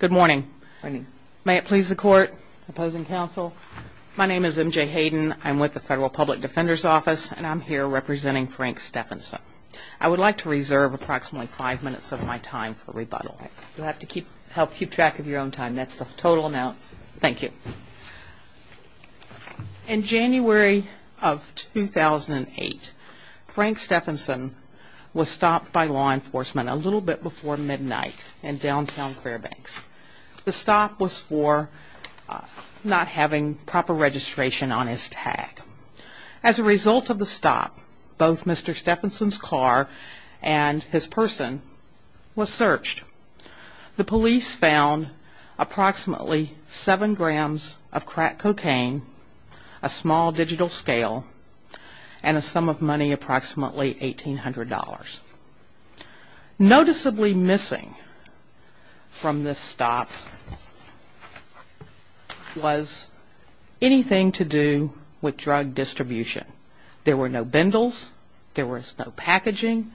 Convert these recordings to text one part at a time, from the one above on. Good morning. May it please the court, opposing counsel, my name is MJ Hayden. I'm with the Federal Public Defender's Office and I'm here representing Frank Steffensen. I would like to reserve approximately five minutes of my time for rebuttal. You'll have to help keep track of your own time. That's the total amount. Thank you. In January of 2008, Frank Steffensen was stopped by law enforcement a little bit before midnight in downtown Fairbanks. The stop was for not having proper registration on his tag. As a result of the stop, both Mr. Steffensen's car and his person were searched. The police found approximately seven grams of crack cocaine, a small digital scale, and a sum of money approximately $1,800. Noticeably missing from this stop was anything to do with drug distribution. There were no bundles, there was no packaging,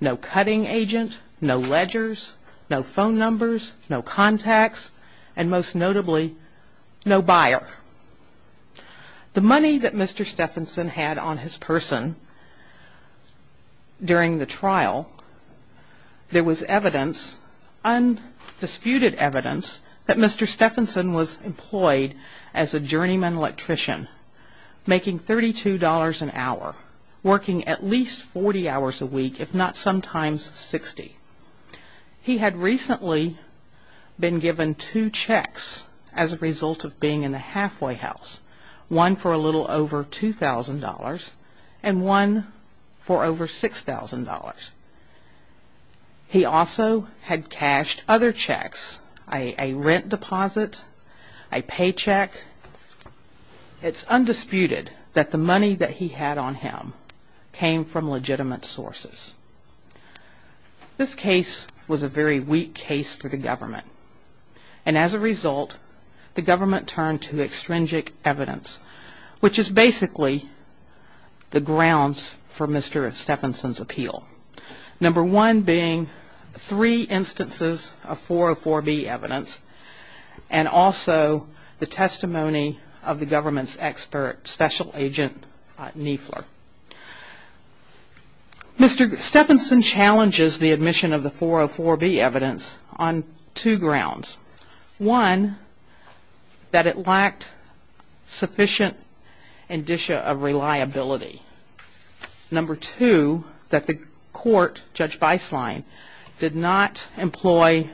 no cutting agent, no ledgers, no phone numbers, no contacts, and most notably, no buyer. The money that Mr. Steffensen had on his person during the trial, there was evidence, undisputed evidence, that Mr. Steffensen was employed as a journeyman electrician, making $32 an hour, working at least 40 hours a week, if not sometimes 60. He had recently been given two checks as a result of being in a halfway house, one for a little over $2,000 and one for over $6,000. He also had cashed other checks, a rent deposit, a paycheck. It's undisputed that the money that he had on him came from legitimate sources. This case was a very weak case for the government, and as a result, the government turned to extrinsic evidence, which is basically the grounds for Mr. Steffensen's appeal. Number one being three instances of 404B evidence, and also the testimony of the government's expert special agent, Niefler. Mr. Steffensen challenges the admission of the 404B evidence on two grounds. One, that it lacked sufficient indicia of reliability. Number two, that the court, Judge Beislein, did not employ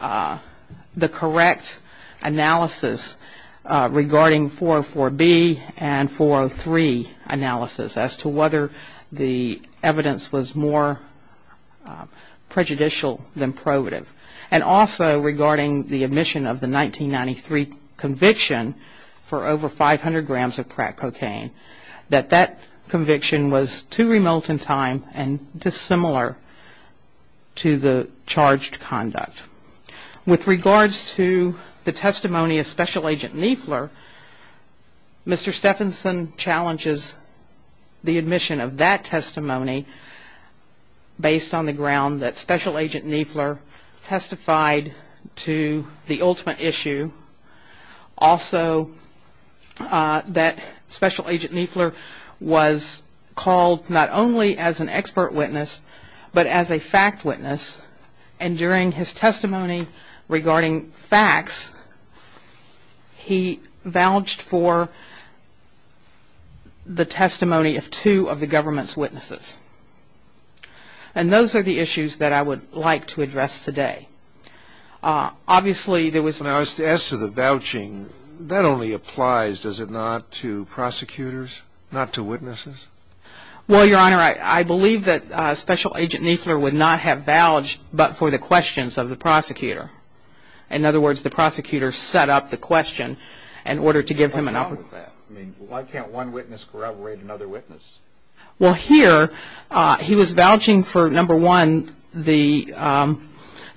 the correct analysis regarding 404B and 403 analysis as to whether the evidence was more prejudicial than probative. And also regarding the admission of the 1993 conviction for over 500 grams of crack cocaine, that that conviction was too remote in time and dissimilar to the charged conduct. With regards to the testimony of Special Agent Niefler, Mr. Steffensen challenges the admission of that testimony based on the ground that Special Agent Niefler testified to the ultimate issue. Also, that Special Agent Niefler was called not only as an expert witness, but as a fact witness, and during his testimony regarding facts, he vouched for the testimony of two of the government's witnesses. And those are the issues that I would like to address today. Obviously, there was... Now, as to the vouching, that only applies, does it not, to prosecutors, not to witnesses? Well, Your Honor, I believe that Special Agent Niefler would not have vouched but for the questions of the prosecutor. In other words, the prosecutor set up the question in order to give him an... What's wrong with that? I mean, why can't one witness corroborate another witness? Well, here, he was vouching for, number one, the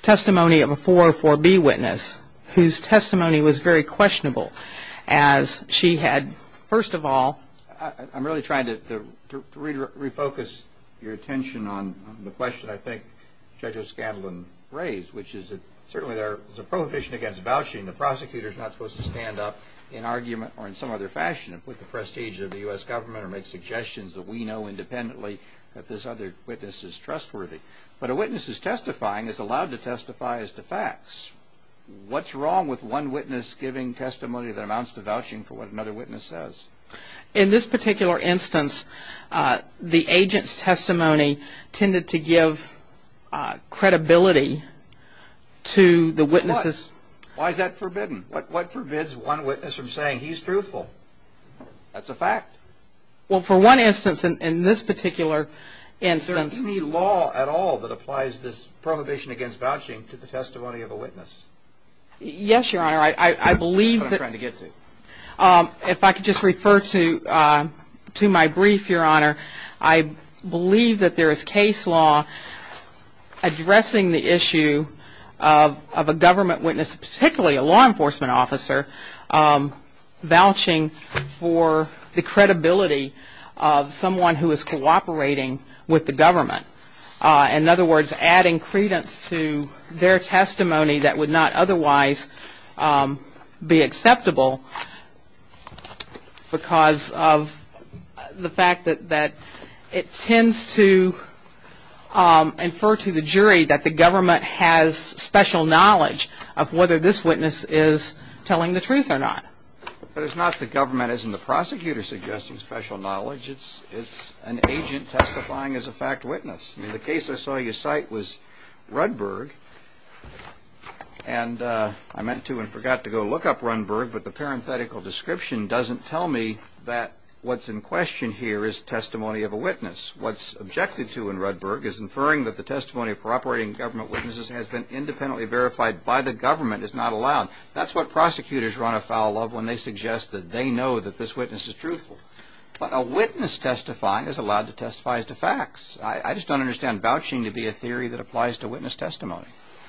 testimony of a 404B witness, whose testimony was very questionable, as she had, first of all... I'm really trying to refocus your attention on the question I think Judge O'Scanlan raised, which is that certainly there is a prohibition against vouching. The prosecutor is not supposed to stand up in argument or in some other fashion and put the prestige of the U.S. government or make suggestions that we know independently that this other witness is trustworthy. But a witness is testifying, is allowed to testify as to facts. What's wrong with one witness giving testimony that amounts to vouching for what another witness says? In this particular instance, the agent's testimony tended to give credibility to the witness's... Why is that forbidden? What forbids one witness from saying he's truthful? That's a fact. Well, for one instance, in this particular instance... Is there any law at all that applies this prohibition against vouching to the testimony of a witness? Yes, Your Honor. I believe that... That's what I'm trying to get to. If I could just refer to my brief, Your Honor. I believe that there is case law addressing the issue of a government witness, particularly a law enforcement officer, vouching for the credibility of someone who is cooperating with the government. In other words, adding credence to their testimony that would not otherwise be acceptable because of the fact that it tends to infer to the jury that the government has special knowledge of whether this witness is telling the truth or not. But it's not the government. It isn't the prosecutor suggesting special knowledge. It's an agent testifying as a fact witness. In the case I saw you cite was Rudberg, and I meant to and forgot to go look up Rudberg, but the parenthetical description doesn't tell me that what's in question here is testimony of a witness. What's objected to in Rudberg is inferring that the testimony of cooperating government witnesses has been independently verified by the government. It's not allowed. That's what prosecutors run afoul of when they suggest that they know that this witness is truthful. But a witness testifying is allowed to testify as to facts. I just don't understand vouching to be a theory that applies to witness testimony.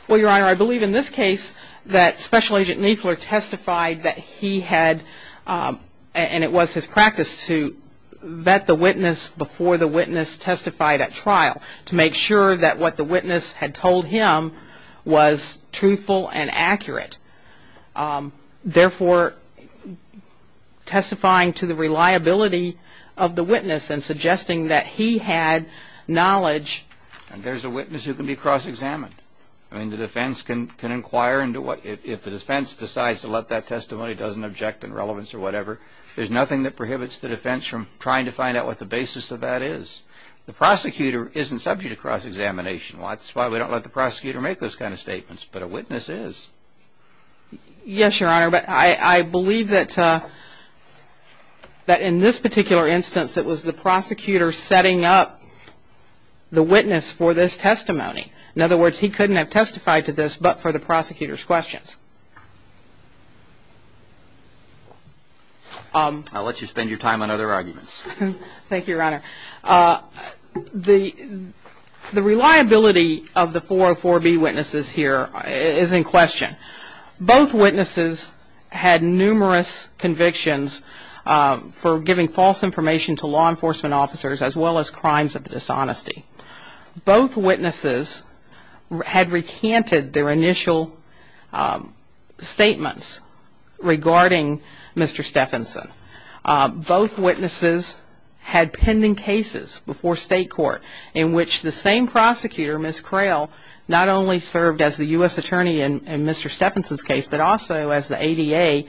Well, Your Honor, I believe in this case that Special Agent Niefler testified that he had, and it was his practice to vet the witness before the witness testified at trial to make sure that what the witness had told him was truthful and accurate. Therefore, testifying to the reliability of the witness and suggesting that he had knowledge. And there's a witness who can be cross-examined. I mean, the defense can inquire into what, if the defense decides to let that testimony, doesn't object in relevance or whatever, there's nothing that prohibits the defense from trying to find out what the basis of that is. The prosecutor isn't subject to cross-examination. That's why we don't let the prosecutor make those kind of statements, but a witness is. Yes, Your Honor, but I believe that in this particular instance, it was the prosecutor setting up the witness for this testimony. In other words, he couldn't have testified to this but for the prosecutor's questions. I'll let you spend your time on other arguments. Thank you, Your Honor. The reliability of the 404B witnesses here is in question. Both witnesses had numerous convictions for giving false information to law enforcement officers as well as crimes of dishonesty. Both witnesses had recanted their initial statements regarding Mr. Steffenson. Both witnesses had pending cases before state court in which the same prosecutor, Ms. Crail, not only served as the U.S. attorney in Mr. Steffenson's case, but also as the ADA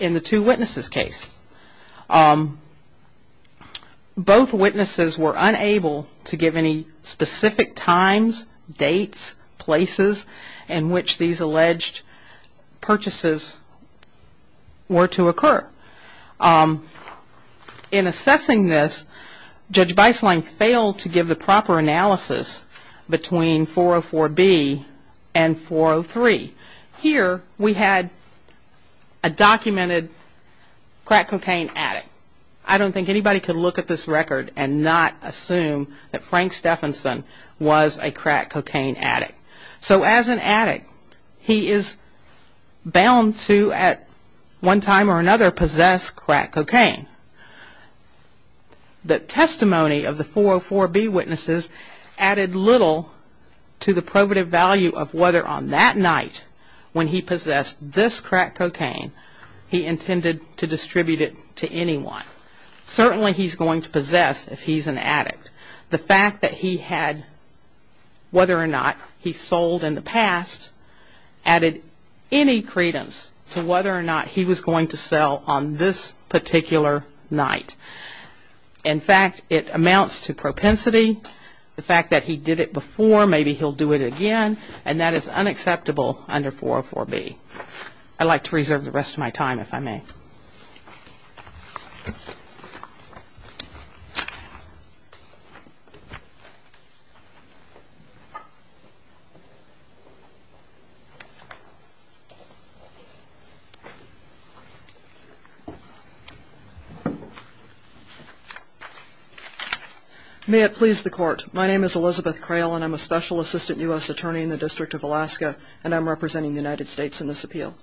in the two witnesses' case. Both witnesses were unable to give any specific times, dates, places in which these alleged purchases were to occur. In assessing this, Judge Beisling failed to give the proper analysis between 404B and 403. Here we had a documented crack cocaine addict. I don't think anybody could look at this record and not assume that Frank Steffenson was a crack cocaine addict. So as an addict, he is bound to at one time or another possess crack cocaine. The testimony of the 404B witnesses added little to the probative value of whether on that night when he possessed this crack cocaine, he intended to distribute it to anyone. Certainly he's going to possess if he's an addict. The fact that he had, whether or not he sold in the past, added any credence to whether or not he was going to sell on this particular night. In fact, it amounts to propensity. The fact that he did it before, maybe he'll do it again, and that is unacceptable under 404B. I'd like to reserve the rest of my time, if I may. May it please the Court. My name is Elizabeth Crail, and I'm a Special Assistant U.S. Attorney in the District of Alaska, and I'm representing the United States in this appeal.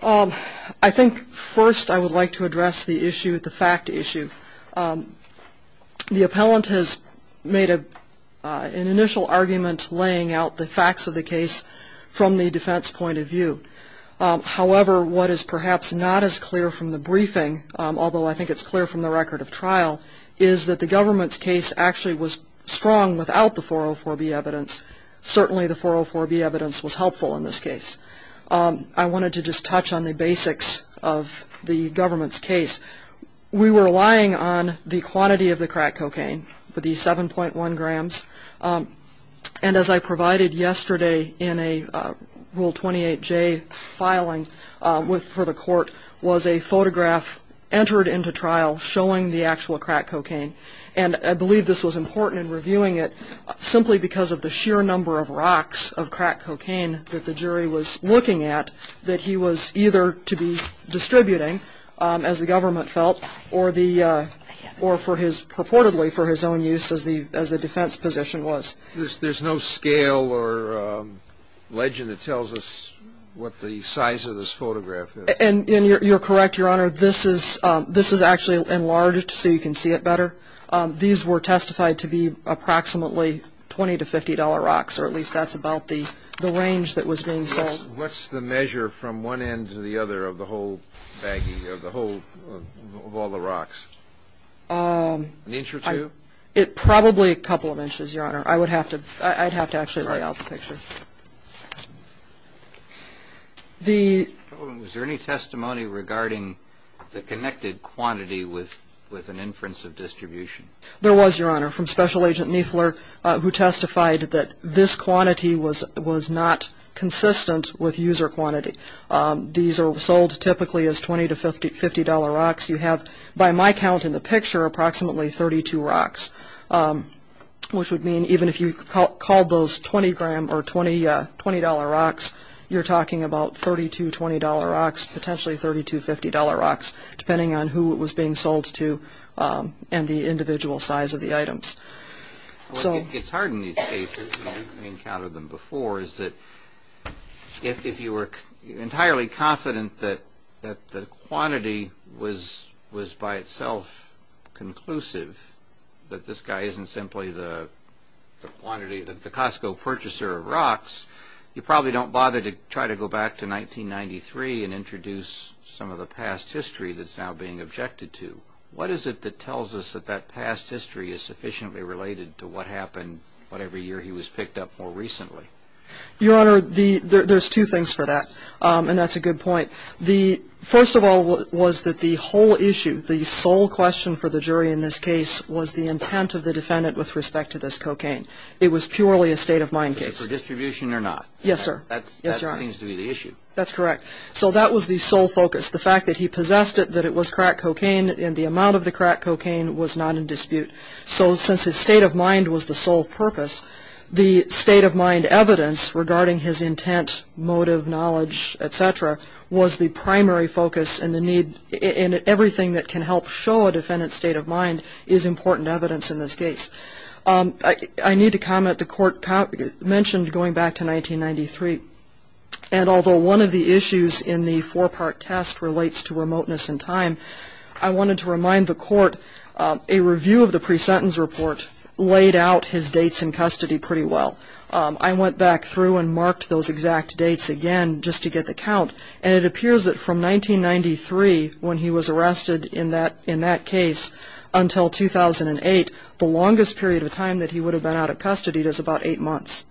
I think first I would like to address the issue, the fact issue. The appellant has made an initial argument laying out the facts of the case from the defense point of view. However, what is perhaps not as clear from the briefing, although I think it's clear from the record of trial, is that the government's case actually was strong without the 404B evidence. Certainly the 404B evidence was helpful in this case. I wanted to just touch on the basics of the government's case. We were relying on the quantity of the crack cocaine, the 7.1 grams, and as I provided yesterday in a Rule 28J filing for the Court, was a photograph entered into trial showing the actual crack cocaine. And I believe this was important in reviewing it, simply because of the sheer number of rocks of crack cocaine that the jury was looking at, that he was either to be distributing, as the government felt, or purportedly for his own use as the defense position was. There's no scale or legend that tells us what the size of this photograph is. And you're correct, Your Honor, this is actually enlarged so you can see it better. These were testified to be approximately $20 to $50 rocks, or at least that's about the range that was being sold. What's the measure from one end to the other of the whole baggie, of all the rocks? An inch or two? Probably a couple of inches, Your Honor. I'd have to actually lay out the picture. Was there any testimony regarding the connected quantity with an inference of distribution? There was, Your Honor, from Special Agent Niefler, who testified that this quantity was not consistent with user quantity. These are sold typically as $20 to $50 rocks. You have, by my count in the picture, approximately 32 rocks, which would mean even if you called those $20 rocks, you're talking about $32 to $20 rocks, potentially $30 to $50 rocks, depending on who it was being sold to and the individual size of the items. What gets hard in these cases, and I've encountered them before, is that if you were entirely confident that the quantity was by itself conclusive, that this guy isn't simply the quantity, the Costco purchaser of rocks, you probably don't bother to try to go back to 1993 and introduce some of the past history that's now being objected to. What is it that tells us that that past history is sufficiently related to what happened, what every year he was picked up more recently? Your Honor, there's two things for that, and that's a good point. First of all was that the whole issue, the sole question for the jury in this case, was the intent of the defendant with respect to this cocaine. It was purely a state-of-mind case. Was it for distribution or not? Yes, sir. That seems to be the issue. That's correct. So that was the sole focus, the fact that he possessed it, that it was crack cocaine, and the amount of the crack cocaine was not in dispute. So since his state of mind was the sole purpose, the state-of-mind evidence regarding his intent, motive, knowledge, et cetera, was the primary focus, and everything that can help show a defendant's state of mind is important evidence in this case. I need to comment, the Court mentioned going back to 1993, and although one of the issues in the four-part test relates to remoteness and time, I wanted to remind the Court a review of the pre-sentence report laid out his dates in custody pretty well. I went back through and marked those exact dates again just to get the count, and it appears that from 1993 when he was arrested in that case until 2008, the longest period of time that he would have been out of custody was about eight months.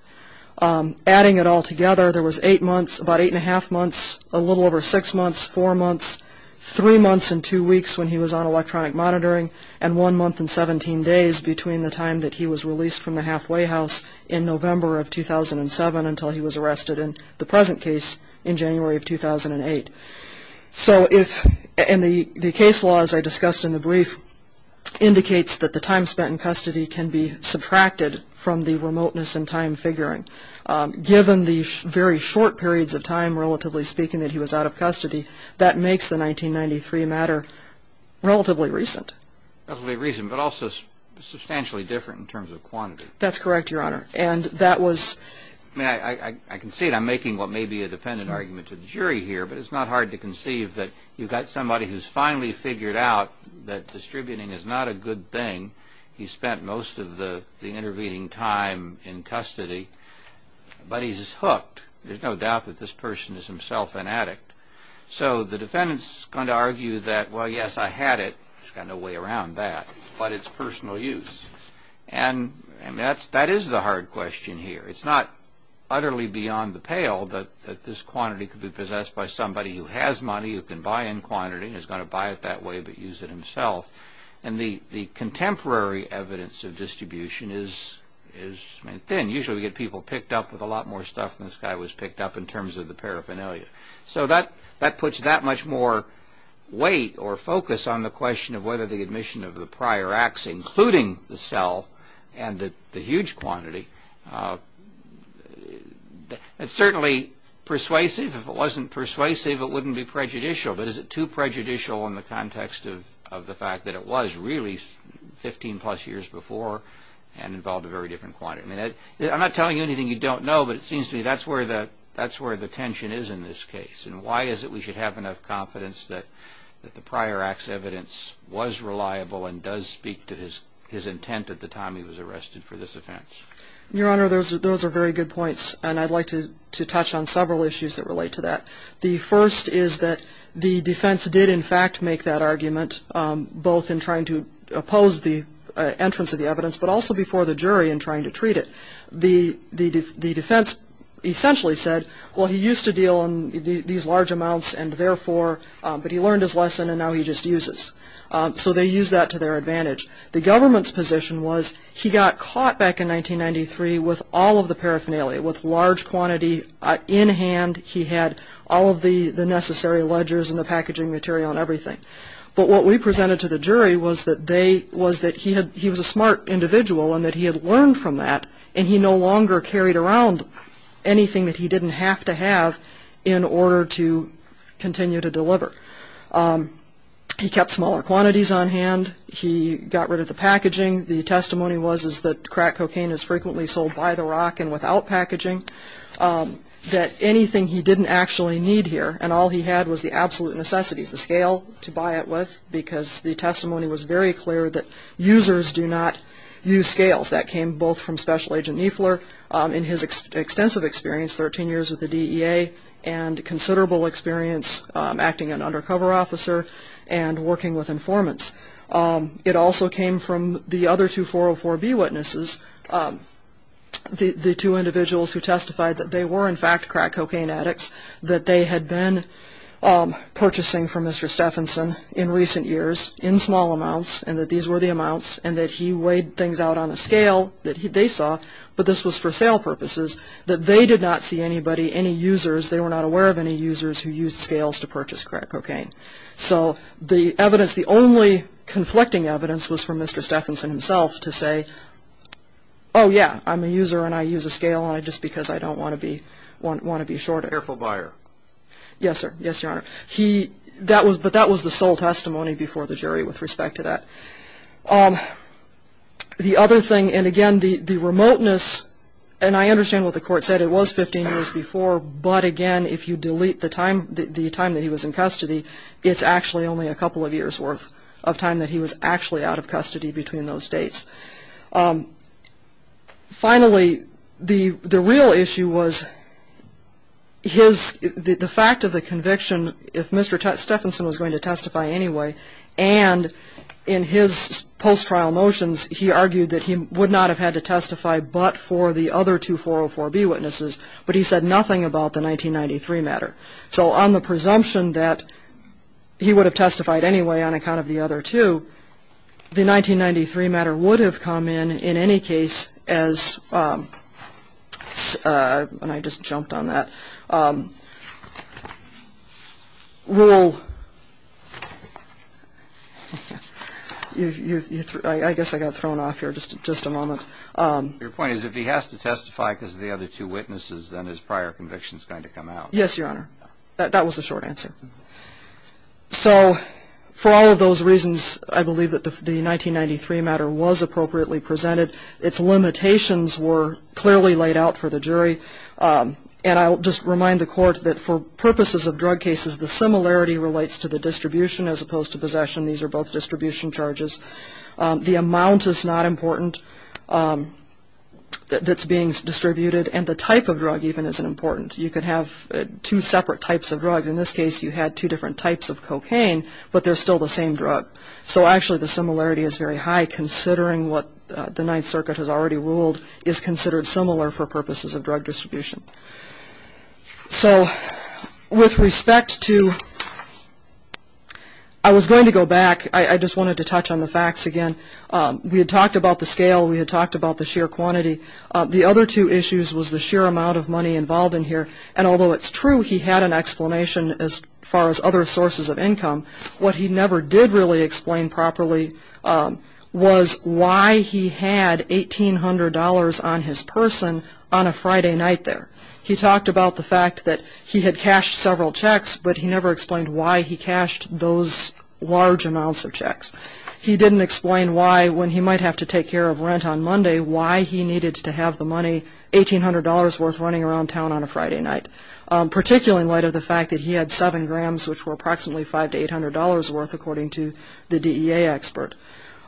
Adding it all together, there was eight months, about eight-and-a-half months, a little over six months, four months, three months and two weeks when he was on electronic monitoring, and one month and 17 days between the time that he was released from the halfway house in November of 2007 until he was arrested in the present case in January of 2008. The case law, as I discussed in the brief, indicates that the time spent in custody can be subtracted from the remoteness and time figuring. Given the very short periods of time, relatively speaking, that he was out of custody, that makes the 1993 matter relatively recent. Relatively recent, but also substantially different in terms of quantity. That's correct, Your Honor, and that was... I mean, I concede I'm making what may be a defendant argument to the jury here, but it's not hard to conceive that you've got somebody who's finally figured out that distributing is not a good thing. He spent most of the intervening time in custody, but he's hooked. There's no doubt that this person is himself an addict. So the defendant's going to argue that, well, yes, I had it. He's got no way around that, but it's personal use. And that is the hard question here. It's not utterly beyond the pale that this quantity could be possessed by somebody who has money, who can buy in quantity, who's going to buy it that way but use it himself. And the contemporary evidence of distribution is thin. Usually we get people picked up with a lot more stuff than this guy was picked up in terms of the paraphernalia. So that puts that much more weight or focus on the question of whether the admission of the prior acts, including the cell and the huge quantity, it's certainly persuasive. If it wasn't persuasive, it wouldn't be prejudicial. But is it too prejudicial in the context of the fact that it was really 15-plus years before and involved a very different quantity? I'm not telling you anything you don't know, but it seems to me that's where the tension is in this case. And why is it we should have enough confidence that the prior acts evidence was reliable and does speak to his intent at the time he was arrested for this offense? Your Honor, those are very good points. And I'd like to touch on several issues that relate to that. The first is that the defense did, in fact, make that argument, both in trying to oppose the entrance of the evidence, but also before the jury in trying to treat it. The defense essentially said, well, he used to deal in these large amounts, but he learned his lesson and now he just uses. So they used that to their advantage. The government's position was he got caught back in 1993 with all of the paraphernalia, with large quantity in hand. He had all of the necessary ledgers and the packaging material and everything. But what we presented to the jury was that he was a smart individual and that he had learned from that and he no longer carried around anything that he didn't have to have in order to continue to deliver. He kept smaller quantities on hand. He got rid of the packaging. The testimony was that crack cocaine is frequently sold by the rock and without packaging, that anything he didn't actually need here, and all he had was the absolute necessities, the scale to buy it with, because the testimony was very clear that users do not use scales. That came both from Special Agent Niefler in his extensive experience, 13 years with the DEA, and considerable experience acting an undercover officer and working with informants. It also came from the other two 404B witnesses, the two individuals who testified that they were in fact crack cocaine addicts, that they had been purchasing from Mr. Stephenson in recent years in small amounts and that these were the amounts and that he weighed things out on a scale that they saw, but this was for sale purposes, that they did not see anybody, any users, they were not aware of any users who used scales to purchase crack cocaine. So the evidence, the only conflicting evidence was from Mr. Stephenson himself to say, oh, yeah, I'm a user and I use a scale just because I don't want to be short. Careful buyer. Yes, sir. Yes, Your Honor. But that was the sole testimony before the jury with respect to that. The other thing, and again, the remoteness, and I understand what the court said, but it was 15 years before, but again, if you delete the time that he was in custody, it's actually only a couple of years worth of time that he was actually out of custody between those dates. Finally, the real issue was the fact of the conviction, if Mr. Stephenson was going to testify anyway, and in his post-trial motions he argued that he would not have had to testify but for the other two 404B witnesses, but he said nothing about the 1993 matter. So on the presumption that he would have testified anyway on account of the other two, the 1993 matter would have come in in any case as, and I just jumped on that, rule, I guess I got thrown off here, just a moment. Your point is if he has to testify because of the other two witnesses, then his prior conviction is going to come out. Yes, Your Honor. That was the short answer. So for all of those reasons, I believe that the 1993 matter was appropriately presented. Its limitations were clearly laid out for the jury, and I'll just remind the court that for purposes of drug cases, the similarity relates to the distribution as opposed to possession. These are both distribution charges. The amount is not important that's being distributed, and the type of drug even isn't important. You could have two separate types of drugs. In this case, you had two different types of cocaine, but they're still the same drug. So actually the similarity is very high, considering what the Ninth Circuit has already ruled is considered similar for purposes of drug distribution. So with respect to, I was going to go back. I just wanted to touch on the facts again. We had talked about the scale. We had talked about the sheer quantity. The other two issues was the sheer amount of money involved in here, and although it's true he had an explanation as far as other sources of income, what he never did really explain properly was why he had $1,800 on his person on a Friday night there. He talked about the fact that he had cashed several checks, but he never explained why he cashed those large amounts of checks. He didn't explain why, when he might have to take care of rent on Monday, why he needed to have the money, $1,800 worth, running around town on a Friday night, particularly in light of the fact that he had seven grams, which were approximately $500 to $800 worth, according to the DEA expert,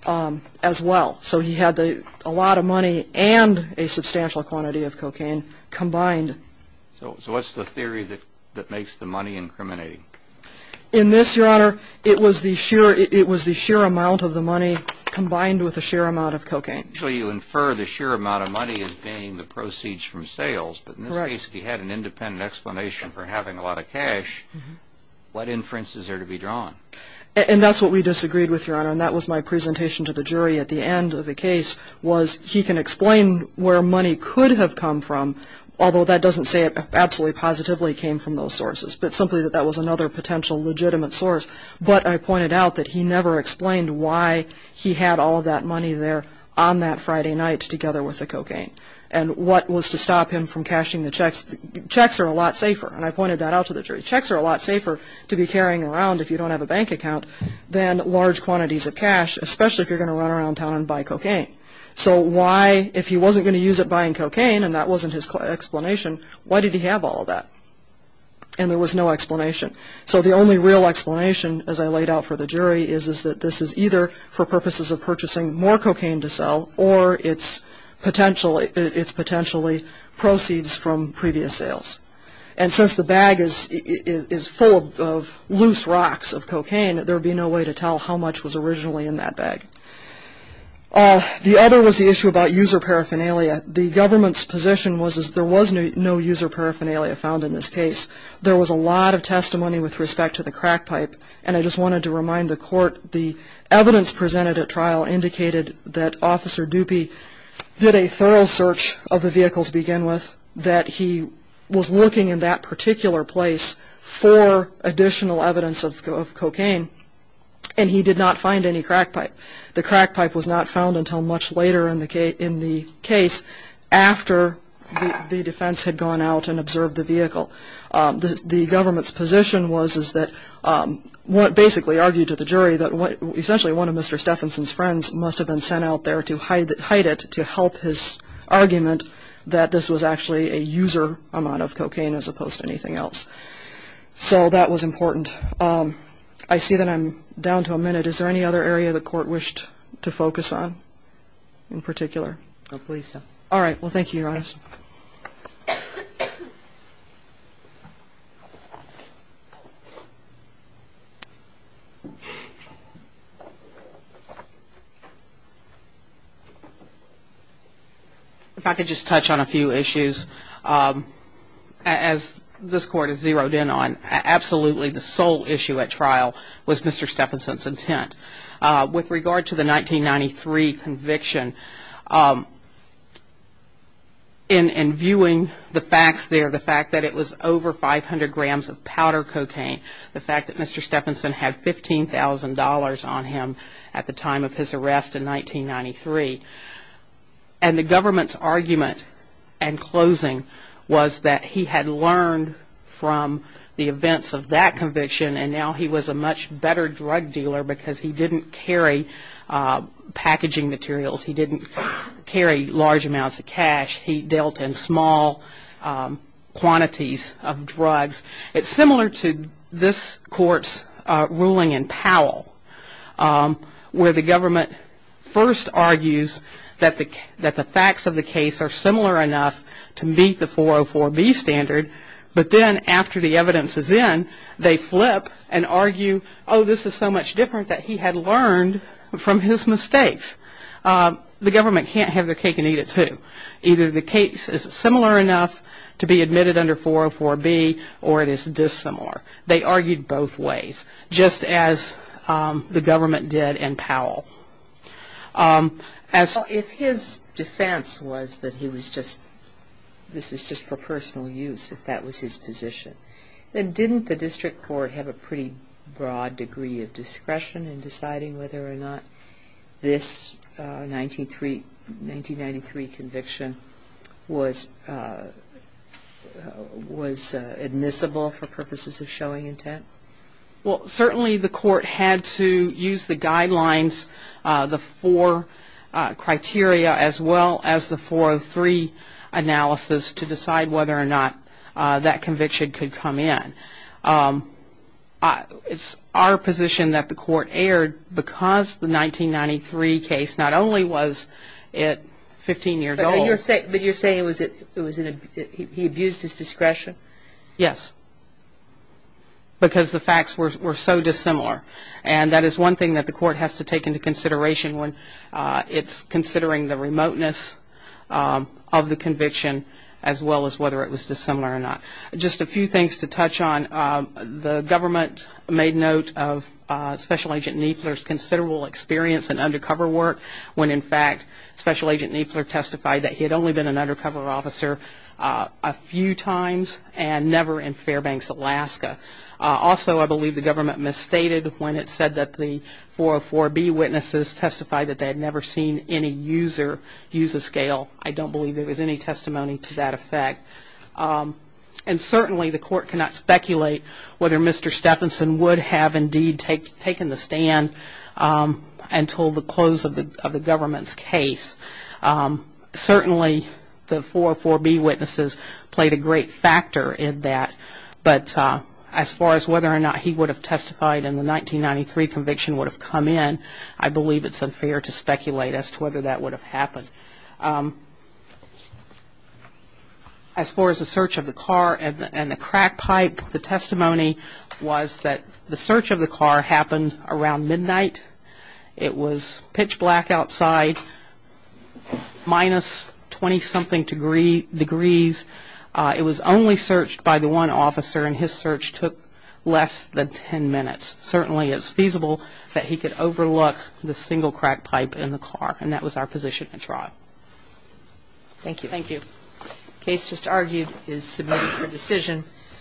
as well. So he had a lot of money and a substantial quantity of cocaine combined. So what's the theory that makes the money incriminating? In this, Your Honor, it was the sheer amount of the money combined with the sheer amount of cocaine. So you infer the sheer amount of money as being the proceeds from sales, but in this case, if he had an independent explanation for having a lot of cash, what inference is there to be drawn? And that's what we disagreed with, Your Honor, and that was my presentation to the jury at the end of the case, was he can explain where money could have come from, although that doesn't say it absolutely positively came from those sources, but simply that that was another potential legitimate source. But I pointed out that he never explained why he had all that money there on that Friday night together with the cocaine and what was to stop him from cashing the checks. Checks are a lot safer, and I pointed that out to the jury. Checks are a lot safer to be carrying around if you don't have a bank account than large quantities of cash, especially if you're going to run around town and buy cocaine. So why, if he wasn't going to use it buying cocaine and that wasn't his explanation, why did he have all that? And there was no explanation. So the only real explanation, as I laid out for the jury, is that this is either for purposes of purchasing more cocaine to sell or it's potentially proceeds from previous sales. And since the bag is full of loose rocks of cocaine, there would be no way to tell how much was originally in that bag. The other was the issue about user paraphernalia. The government's position was that there was no user paraphernalia found in this case. There was a lot of testimony with respect to the crack pipe, which indicated that Officer Dupie did a thorough search of the vehicle to begin with, that he was looking in that particular place for additional evidence of cocaine, and he did not find any crack pipe. The crack pipe was not found until much later in the case, after the defense had gone out and observed the vehicle. The government's position was that, basically argued to the jury, that essentially one of Mr. Stephenson's friends must have been sent out there to hide it to help his argument that this was actually a user amount of cocaine as opposed to anything else. So that was important. I see that I'm down to a minute. Is there any other area the Court wished to focus on in particular? All right, well, thank you, Your Honor. If I could just touch on a few issues. As this Court has zeroed in on, absolutely the sole issue at trial was Mr. Stephenson's intent. With regard to the 1993 conviction, in viewing the facts there, the fact that it was over 500 grams of powder cocaine, the fact that Mr. Stephenson had $15,000 on him at the time of his arrest in 1993, and the government's argument in closing was that he had learned from the events of that conviction, and now he was a much better drug dealer because he didn't carry packaging materials. He didn't carry large amounts of cash. He dealt in small quantities of drugs. It's similar to this Court's ruling in Powell, where the government first argues that the facts of the case are similar enough to meet the 404B standard, but then after the evidence is in, they flip and argue, oh, this is so much different that he had learned from his mistakes. The government can't have their cake and eat it, too. Either the case is similar enough to be admitted under 404B, or it is dissimilar. They argued both ways, just as the government did in Powell. If his defense was that this was just for personal use, if that was his position, then didn't the district court have a pretty broad degree of discretion in deciding whether or not this 1993 conviction was admissible for purposes of showing intent? Well, certainly the court had to use the guidelines, the four criteria, as well as the 403 analysis to decide whether or not that conviction could come in. It's our position that the court erred because the 1993 case not only was it 15 years old. But you're saying he abused his discretion? Yes, because the facts were so dissimilar. And that is one thing that the court has to take into consideration when it's considering the remoteness of the conviction, as well as whether it was dissimilar or not. Just a few things to touch on. The government made note of Special Agent Niefler's considerable experience in undercover work, when in fact Special Agent Niefler testified that he had only been an undercover officer a few times, and never in Fairbanks, Alaska. Also, I believe the government misstated when it said that the 404B witnesses testified that they had never seen any user use a scale. I don't believe there was any testimony to that effect. And certainly the court cannot speculate whether Mr. Stephenson would have indeed taken the stand until the close of the government's case. Certainly the 404B witnesses played a great factor in that. But as far as whether or not he would have testified in the 1993 conviction would have come in, I believe it's unfair to speculate as to whether that would have happened. As far as the search of the car and the crack pipe, the testimony was that the search of the car happened around midnight. It was pitch black outside, minus 20-something degrees. It was only searched by the one officer, and his search took less than 10 minutes. Certainly it's feasible that he could overlook the single crack pipe in the car, and that was our position at trial. Thank you. Thank you. The case just argued is submitted for decision.